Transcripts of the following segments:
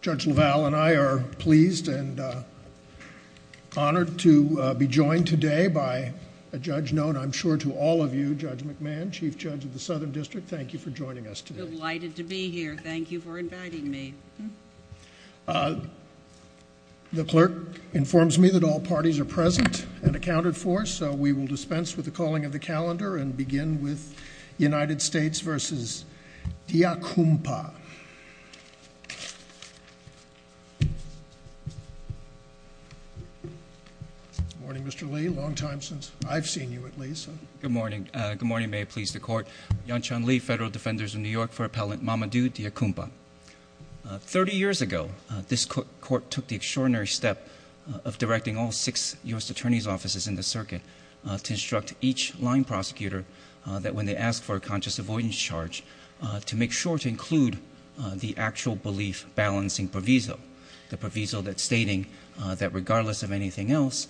Judge LaValle and I are pleased and honored to be joined today by a judge known, I'm sure, to all of you, Judge McMahon, Chief Judge of the Southern District. Thank you for joining us today. Delighted to be here. Thank you for inviting me. The clerk informs me that all parties are present and accounted for, so we will dispense with the calling of the calendar and begin with United States v. Deacumpa. Good morning, Mr. Lee. Long time since I've seen you, at least. Good morning. Good morning. I may please the court. Yan-Chan Lee, Federal Defenders of New York for Appellant Mamadu Deacumpa. Thirty years ago, this court took the extraordinary step of directing all six U.S. Attorney's Offices in the circuit to instruct each line prosecutor that when they ask for a conscious avoidance charge, to make sure to include the actual belief balancing proviso, the proviso that's stating that regardless of anything else,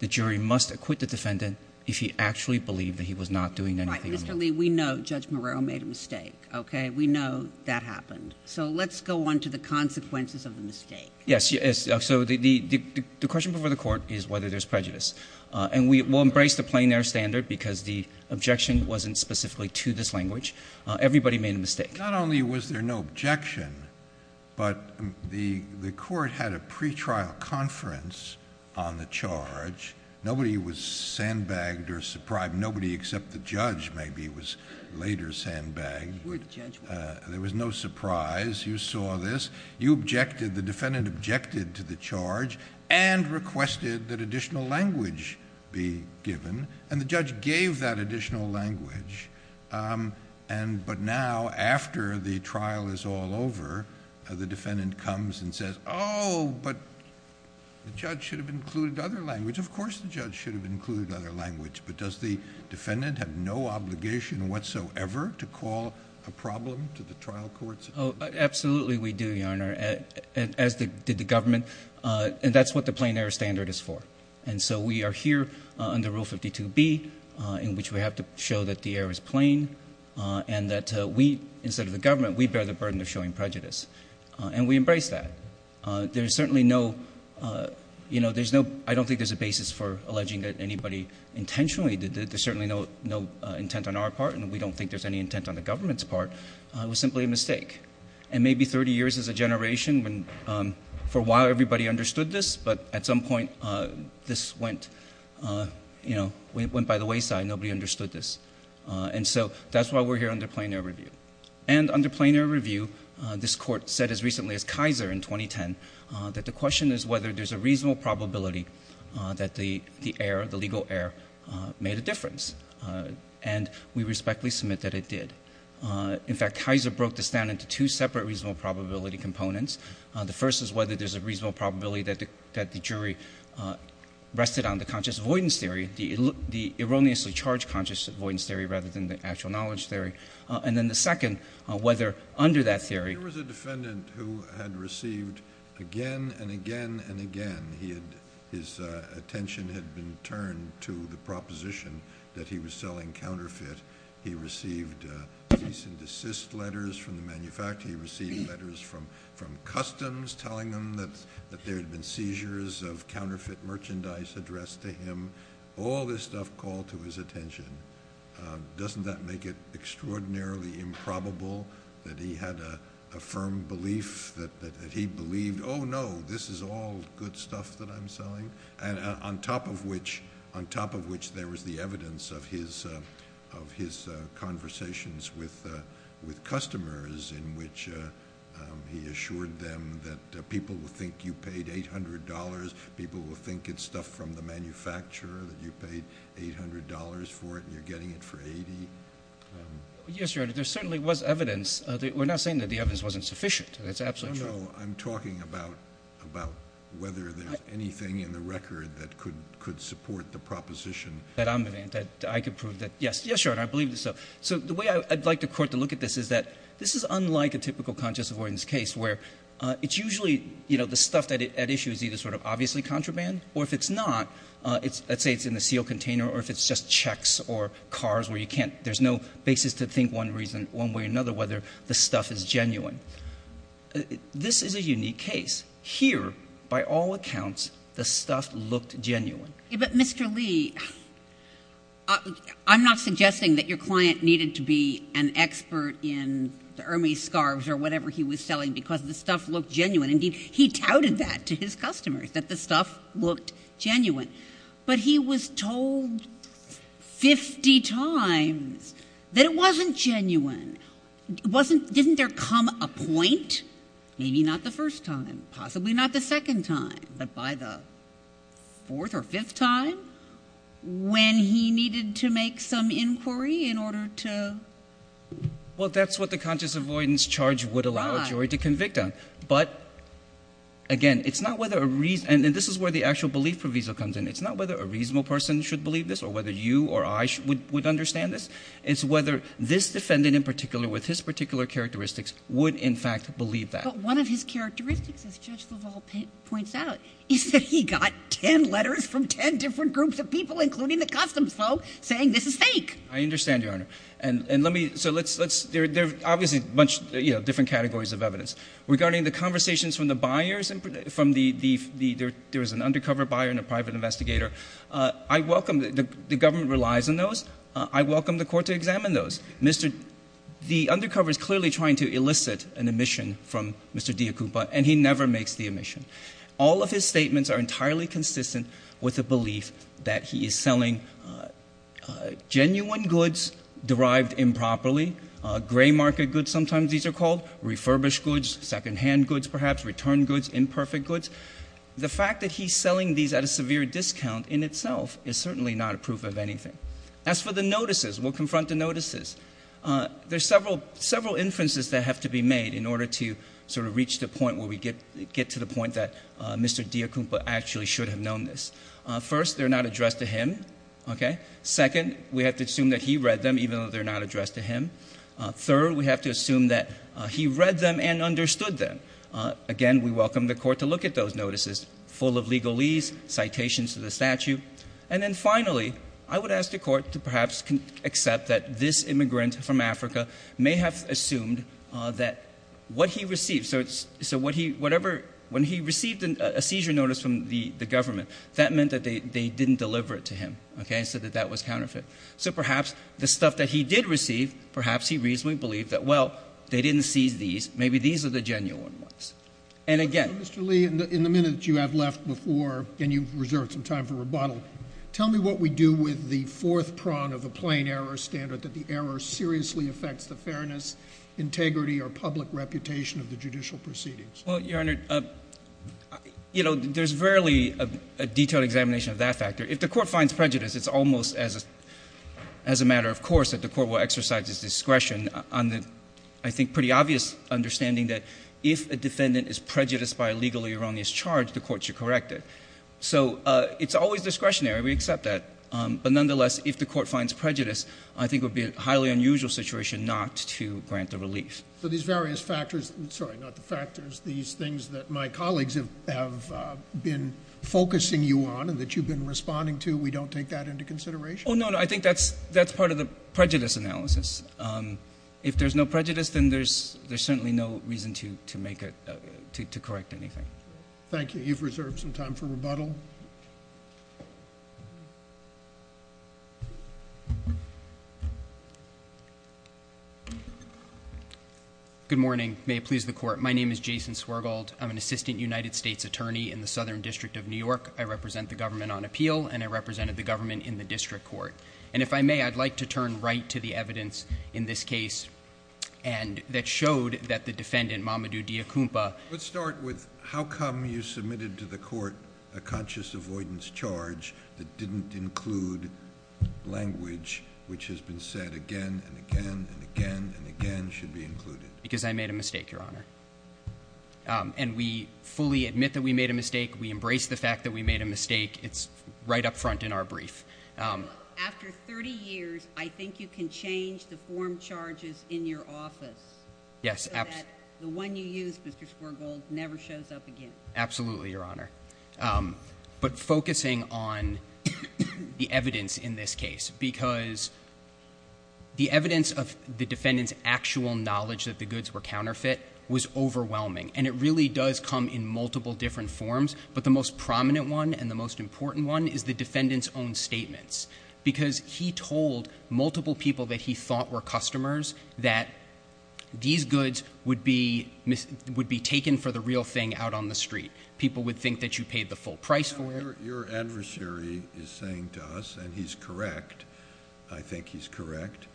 the jury must acquit the defendant if he actually believed that he was not doing anything wrong. Right. Mr. Lee, we know Judge Marrero made a mistake, okay? We know that happened. So let's go on to the consequences of the mistake. Yes. So the question before the court is whether there's prejudice. And we will embrace the plein air standard because the objection wasn't specifically to this language. Everybody made a mistake. Not only was there no objection, but the court had a pretrial conference on the charge. Nobody was sandbagged or surprised. Nobody except the judge maybe was later sandbagged. You were the judge. There was no surprise. You saw this. The defendant objected to the charge and requested that additional language be given. And the judge gave that additional language. But now, after the trial is all over, the defendant comes and says, oh, but the judge should have included other language. Of course the judge should have included other language. But does the defendant have no obligation whatsoever to call a problem to the trial court? Absolutely we do, Your Honor, as did the government. And that's what the plein air standard is for. And so we are here under Rule 52B in which we have to show that the air is plain and that we, instead of the government, we bear the burden of showing prejudice. And we embrace that. There's certainly no, you know, there's no, I don't think there's a basis for alleging that anybody intentionally did it. There's certainly no intent on our part. And we don't think there's any intent on the government's part. It was simply a mistake. And maybe 30 years as a generation, for a while everybody understood this, but at some point this went, you know, went by the wayside and nobody understood this. And so that's why we're here under plein air review. And under plein air review, this court said as recently as Kaiser in 2010, that the question is whether there's a reasonable probability that the air, the legal air, made a difference. And we respectfully submit that it did. In fact, Kaiser broke this down into two separate reasonable probability components. The first is whether there's a reasonable probability that the jury rested on the conscious avoidance theory, the erroneously charged conscious avoidance theory rather than the actual knowledge theory. And then the second, whether under that theory. There was a defendant who had received again and again and again. His attention had been turned to the proposition that he was selling counterfeit. He received cease and desist letters from the manufacturer. He received letters from Customs telling him that there had been seizures of counterfeit merchandise addressed to him. All this stuff called to his attention. Doesn't that make it extraordinarily improbable that he had a firm belief that he believed, oh, no, this is all good stuff that I'm selling? And on top of which, there was the evidence of his conversations with customers in which he assured them that people will think you paid $800. People will think it's stuff from the manufacturer, that you paid $800 for it and you're getting it for $80. Yes, Your Honor. There certainly was evidence. We're not saying that the evidence wasn't sufficient. That's absolutely true. No, no. I'm talking about whether there's anything in the record that could support the proposition. That I could prove that, yes. Yes, Your Honor, I believe so. So the way I'd like the Court to look at this is that this is unlike a typical conscious avoidance case where it's usually, you know, the stuff at issue is either sort of obviously contraband, or if it's not, let's say it's in a sealed container or if it's just checks or cars where you can't, there's no basis to think one way or another whether the stuff is genuine. This is a unique case. Here, by all accounts, the stuff looked genuine. But, Mr. Lee, I'm not suggesting that your client needed to be an expert in the Hermes scarves or whatever he was selling because the stuff looked genuine. Indeed, he touted that to his customers, that the stuff looked genuine. But he was told 50 times that it wasn't genuine. Didn't there come a point, maybe not the first time, possibly not the second time, but by the fourth or fifth time when he needed to make some inquiry in order to? Well, that's what the conscious avoidance charge would allow a jury to convict on. But, again, it's not whether a reason – and this is where the actual belief proviso comes in. It's not whether a reasonable person should believe this or whether you or I would understand this. It's whether this defendant in particular with his particular characteristics would in fact believe that. But one of his characteristics, as Judge Leval points out, is that he got 10 letters from 10 different groups of people, including the customs folks, saying this is fake. I understand, Your Honor. And let me – so let's – there are obviously a bunch of different categories of evidence. Regarding the conversations from the buyers and from the – there was an undercover buyer and a private investigator. I welcome – the government relies on those. I welcome the court to examine those. The undercover is clearly trying to elicit an omission from Mr. Diacupa, and he never makes the omission. All of his statements are entirely consistent with the belief that he is selling genuine goods derived improperly, gray market goods sometimes these are called, refurbished goods, secondhand goods perhaps, return goods, imperfect goods. The fact that he's selling these at a severe discount in itself is certainly not a proof of anything. As for the notices, we'll confront the notices. There's several inferences that have to be made in order to sort of reach the point where we get to the point that Mr. Diacupa actually should have known this. First, they're not addressed to him. Second, we have to assume that he read them, even though they're not addressed to him. Third, we have to assume that he read them and understood them. Again, we welcome the court to look at those notices, full of legalese, citations to the statute. And then finally, I would ask the court to perhaps accept that this immigrant from Africa may have assumed that what he received, so whatever, when he received a seizure notice from the government, that meant that they didn't deliver it to him, okay, so that that was counterfeit. So perhaps the stuff that he did receive, perhaps he reasonably believed that, well, they didn't seize these, maybe these are the genuine ones. And again Mr. Lee, in the minutes you have left before, and you've reserved some time for rebuttal, tell me what we do with the fourth prong of a plain error standard, that the error seriously affects the fairness, integrity, or public reputation of the judicial proceedings. Well, Your Honor, you know, there's rarely a detailed examination of that factor. If the court finds prejudice, it's almost as a matter of course that the court will exercise its discretion on the, I think, pretty obvious understanding that if a defendant is prejudiced by a legally erroneous charge, the court should correct it. So it's always discretionary. We accept that. But nonetheless, if the court finds prejudice, I think it would be a highly unusual situation not to grant the relief. So these various factors, sorry, not the factors, these things that my colleagues have been focusing you on and that you've been responding to, we don't take that into consideration? Oh, no, no. I think that's part of the prejudice analysis. If there's no prejudice, then there's certainly no reason to correct anything. Thank you. You've reserved some time for rebuttal. Good morning. May it please the court. My name is Jason Swergold. I'm an assistant United States attorney in the Southern District of New York. I represent the government on appeal, and I represented the government in the district court. And if I may, I'd like to turn right to the evidence in this case that showed that the defendant, Mamadou Diakoumpa Let's start with how come you submitted to the court a conscious avoidance charge that didn't include language which has been said again and again and again and again should be included? Because I made a mistake, Your Honor. And we fully admit that we made a mistake. We embrace the fact that we made a mistake. It's right up front in our brief. After 30 years, I think you can change the form charges in your office so that the one you used, Mr. Swergold, never shows up again. Absolutely, Your Honor. But focusing on the evidence in this case, because the evidence of the defendant's actual knowledge that the goods were counterfeit was overwhelming. And it really does come in multiple different forms, but the most prominent one and the most important one is the defendant's own statements. Because he told multiple people that he thought were customers that these goods would be taken for the real thing out on the street. People would think that you paid the full price for it. Your adversary is saying to us, and he's correct, I think he's correct,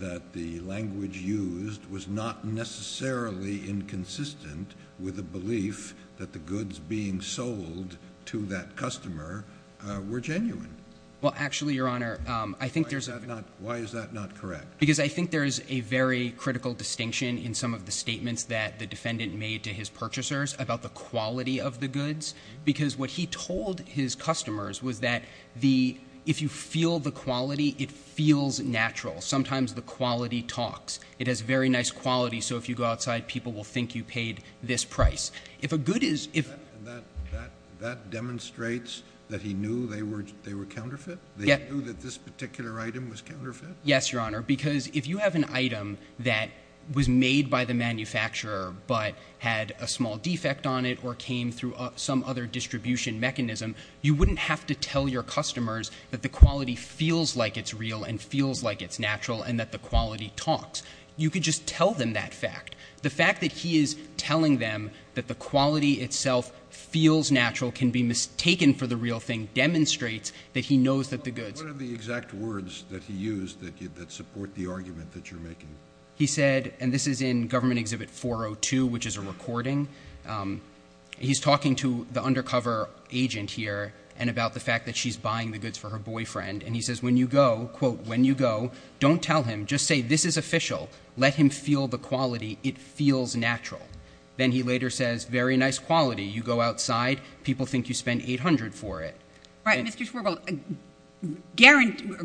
that the language used was not necessarily inconsistent with the belief that the goods being sold to that customer were genuine. Well, actually, Your Honor, I think there's- Why is that not correct? Because I think there is a very critical distinction in some of the statements that the defendant made to his purchasers about the quality of the goods. Because what he told his customers was that if you feel the quality, it feels natural. Sometimes the quality talks. It has very nice quality, so if you go outside, people will think you paid this price. If a good is- That demonstrates that he knew they were counterfeit? Yeah. They knew that this particular item was counterfeit? Yes, Your Honor, because if you have an item that was made by the manufacturer but had a small defect on it or came through some other distribution mechanism, you wouldn't have to tell your customers that the quality feels like it's real and feels like it's natural and that the quality talks. You could just tell them that fact. The fact that he is telling them that the quality itself feels natural, can be mistaken for the real thing, demonstrates that he knows that the goods- He said, and this is in Government Exhibit 402, which is a recording, he's talking to the undercover agent here and about the fact that she's buying the goods for her boyfriend, and he says, when you go, quote, when you go, don't tell him. Just say, this is official. Let him feel the quality. It feels natural. Then he later says, very nice quality. You go outside, people think you spend $800 for it. All right, Mr. Schwirbel,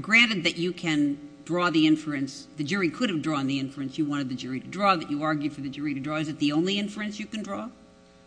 granted that you can draw the inference, the jury could have drawn the inference you wanted the jury to draw, that you argued for the jury to draw. Is it the only inference you can draw?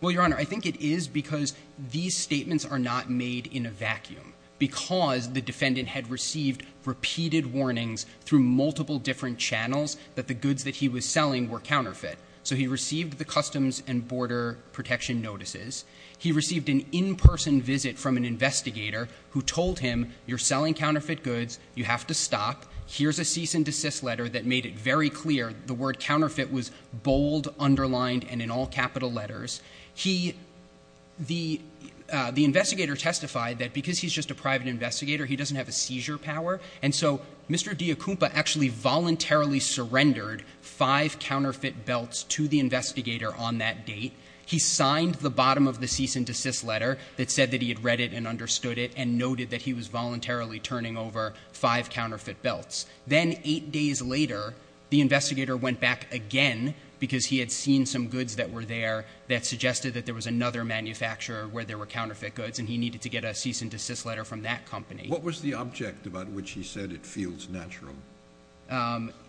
Well, Your Honor, I think it is because these statements are not made in a vacuum, because the defendant had received repeated warnings through multiple different channels that the goods that he was selling were counterfeit. So he received the Customs and Border Protection notices. He received an in-person visit from an investigator who told him, you're selling counterfeit goods. You have to stop. Here's a cease and desist letter that made it very clear the word counterfeit was bold, underlined, and in all capital letters. The investigator testified that because he's just a private investigator, he doesn't have a seizure power, and so Mr. Diacumpa actually voluntarily surrendered five counterfeit belts to the investigator on that date. He signed the bottom of the cease and desist letter that said that he had read it and understood it and noted that he was voluntarily turning over five counterfeit belts. Then eight days later, the investigator went back again because he had seen some goods that were there that suggested that there was another manufacturer where there were counterfeit goods, and he needed to get a cease and desist letter from that company. What was the object about which he said it feels natural?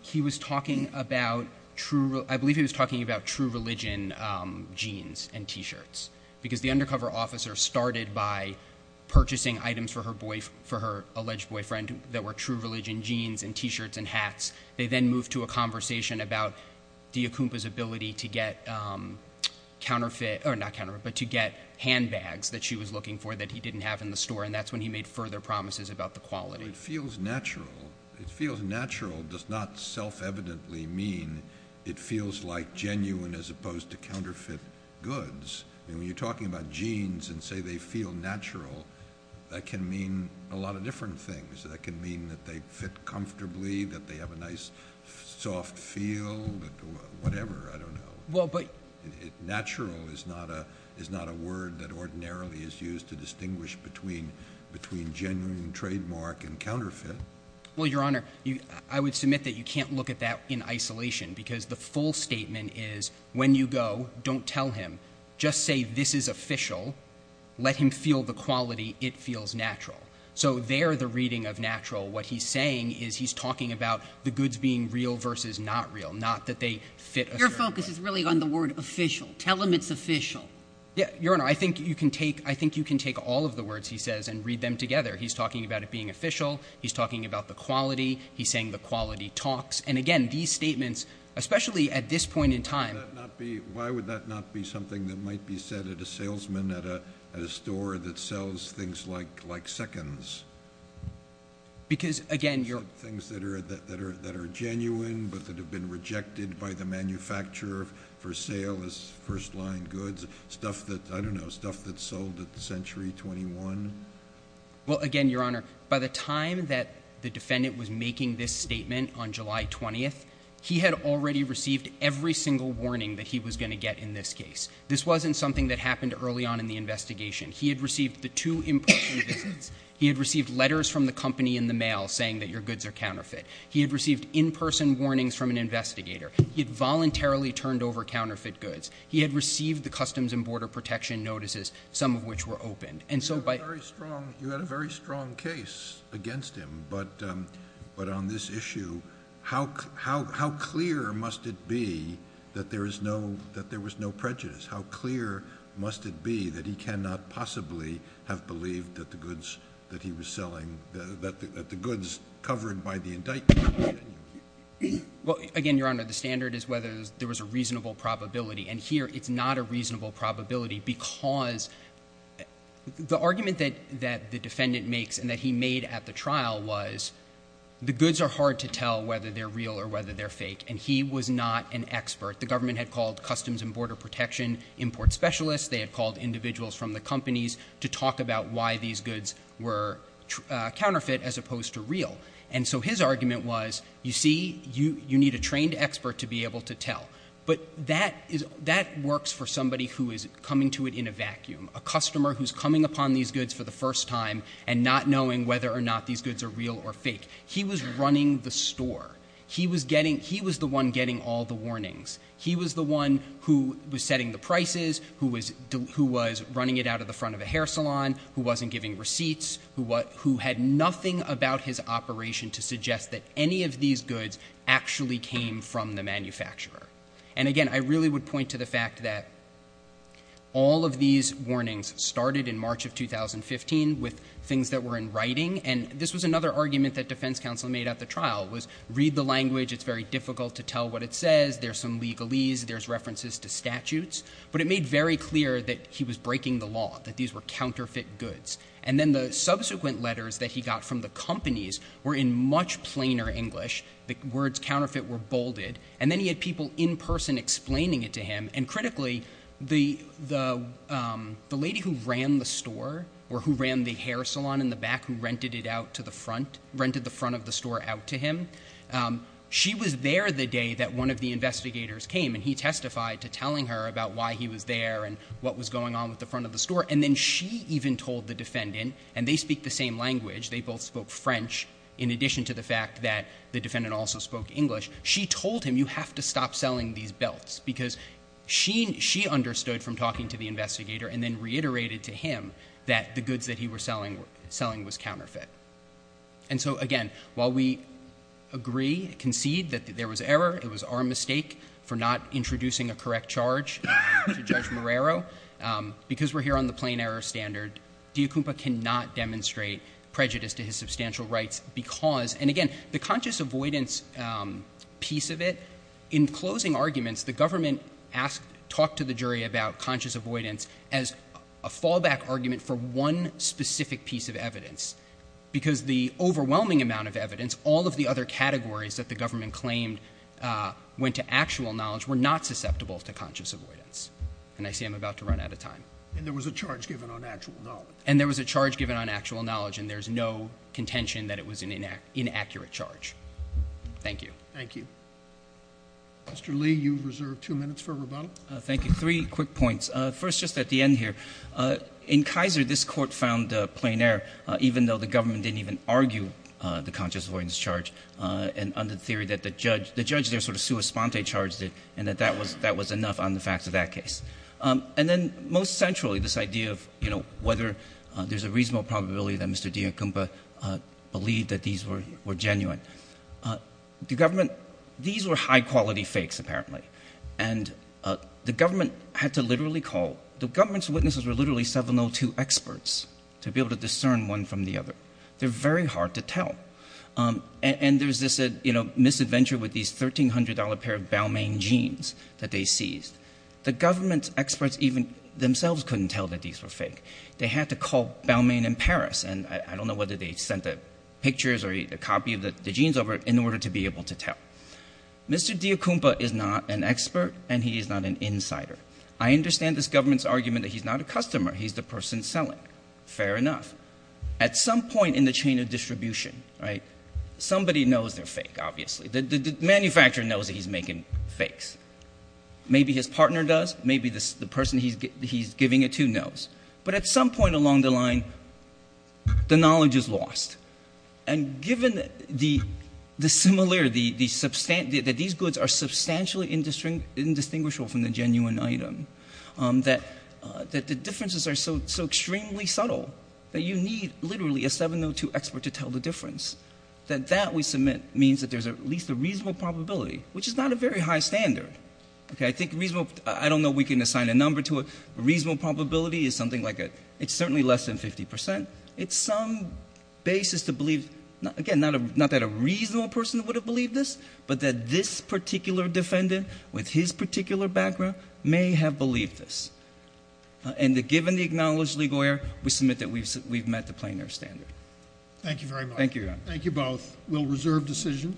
He was talking about true religion jeans and T-shirts because the undercover officer started by purchasing items for her alleged boyfriend that were true religion jeans and T-shirts and hats. They then moved to a conversation about Diacumpa's ability to get handbags that she was looking for that he didn't have in the store, and that's when he made further promises about the quality. It feels natural. It feels natural does not self-evidently mean it feels like genuine as opposed to counterfeit goods. When you're talking about jeans and say they feel natural, that can mean a lot of different things. That can mean that they fit comfortably, that they have a nice soft feel, whatever. I don't know. Natural is not a word that ordinarily is used to distinguish between genuine, trademark, and counterfeit. Well, Your Honor, I would submit that you can't look at that in isolation because the full statement is when you go, don't tell him. Just say this is official. Let him feel the quality. It feels natural. So there the reading of natural, what he's saying is he's talking about the goods being real versus not real, not that they fit a certain way. Your focus is really on the word official. Tell him it's official. Your Honor, I think you can take all of the words he says and read them together. He's talking about it being official. He's talking about the quality. He's saying the quality talks. And, again, these statements, especially at this point in time. Why would that not be something that might be said at a salesman at a store that sells things like seconds? Because, again, Your Honor. Things that are genuine but that have been rejected by the manufacturer for sale as first-line goods. Stuff that, I don't know, stuff that's sold at the Century 21. Well, again, Your Honor, by the time that the defendant was making this statement on July 20th, he had already received every single warning that he was going to get in this case. This wasn't something that happened early on in the investigation. He had received the two impression visits. He had received letters from the company in the mail saying that your goods are counterfeit. He had received in-person warnings from an investigator. He had voluntarily turned over counterfeit goods. He had received the Customs and Border Protection notices, some of which were opened. You had a very strong case against him. But on this issue, how clear must it be that there was no prejudice? How clear must it be that he cannot possibly have believed that the goods that he was selling, that the goods covered by the indictment were genuine? Well, again, Your Honor, the standard is whether there was a reasonable probability. And here it's not a reasonable probability because the argument that the defendant makes and that he made at the trial was the goods are hard to tell whether they're real or whether they're fake. And he was not an expert. The government had called Customs and Border Protection import specialists. They had called individuals from the companies to talk about why these goods were counterfeit as opposed to real. And so his argument was, you see, you need a trained expert to be able to tell. But that works for somebody who is coming to it in a vacuum, a customer who's coming upon these goods for the first time and not knowing whether or not these goods are real or fake. He was running the store. He was the one getting all the warnings. He was the one who was setting the prices, who was running it out of the front of a hair salon, who wasn't giving receipts, who had nothing about his operation to suggest that any of these goods actually came from the manufacturer. And, again, I really would point to the fact that all of these warnings started in March of 2015 with things that were in writing, and this was another argument that defense counsel made at the trial was read the language. It's very difficult to tell what it says. There's some legalese. There's references to statutes. But it made very clear that he was breaking the law, that these were counterfeit goods. And then the subsequent letters that he got from the companies were in much plainer English. The words counterfeit were bolded. And then he had people in person explaining it to him. And, critically, the lady who ran the store or who ran the hair salon in the back and rented it out to the front, rented the front of the store out to him, she was there the day that one of the investigators came, and he testified to telling her about why he was there and what was going on with the front of the store. And then she even told the defendant, and they speak the same language. They both spoke French in addition to the fact that the defendant also spoke English. She told him, you have to stop selling these belts, because she understood from talking to the investigator and then reiterated to him that the goods that he was selling was counterfeit. And so, again, while we agree, concede, that there was error, it was our mistake for not introducing a correct charge to Judge Marrero, because we're here on the plain error standard, Diakoumpa cannot demonstrate prejudice to his substantial rights because, and, again, the conscious avoidance piece of it, in closing arguments, the government talked to the jury about conscious avoidance as a fallback argument for one specific piece of evidence, because the overwhelming amount of evidence, all of the other categories that the government claimed went to actual knowledge, were not susceptible to conscious avoidance. And I see I'm about to run out of time. And there was a charge given on actual knowledge. And there was a charge given on actual knowledge, and there's no contention that it was an inaccurate charge. Thank you. Thank you. Mr. Lee, you reserve two minutes for rebuttal. Thank you. Three quick points. First, just at the end here, in Kaiser, this court found plain error, even though the government didn't even argue the conscious avoidance charge, and under the theory that the judge there sort of sua sponte charged it and that that was enough on the facts of that case. And then, most centrally, this idea of, you know, whether there's a reasonable probability that Mr. Diakoumpa believed that these were genuine. The government – these were high-quality fakes, apparently. And the government had to literally call – the government's witnesses were literally 702 experts to be able to discern one from the other. They're very hard to tell. And there's this, you know, misadventure with these $1,300 pair of Balmain jeans that they seized. The government experts even themselves couldn't tell that these were fake. They had to call Balmain in Paris. And I don't know whether they sent the pictures or a copy of the jeans over in order to be able to tell. Mr. Diakoumpa is not an expert, and he is not an insider. I understand this government's argument that he's not a customer. He's the person selling. Fair enough. At some point in the chain of distribution, right, somebody knows they're fake, obviously. The manufacturer knows that he's making fakes. Maybe his partner does. Maybe the person he's giving it to knows. But at some point along the line, the knowledge is lost. And given the similarity, that these goods are substantially indistinguishable from the genuine item, that the differences are so extremely subtle that you need literally a 702 expert to tell the difference, that that, we submit, means that there's at least a reasonable probability, which is not a very high standard. I don't know if we can assign a number to it, but a reasonable probability is something like a, it's certainly less than 50%. It's some basis to believe, again, not that a reasonable person would have believed this, but that this particular defendant with his particular background may have believed this. And given the acknowledged legal error, we submit that we've met the plainer standard. Thank you very much. Thank you. Thank you both. We'll reserve decision.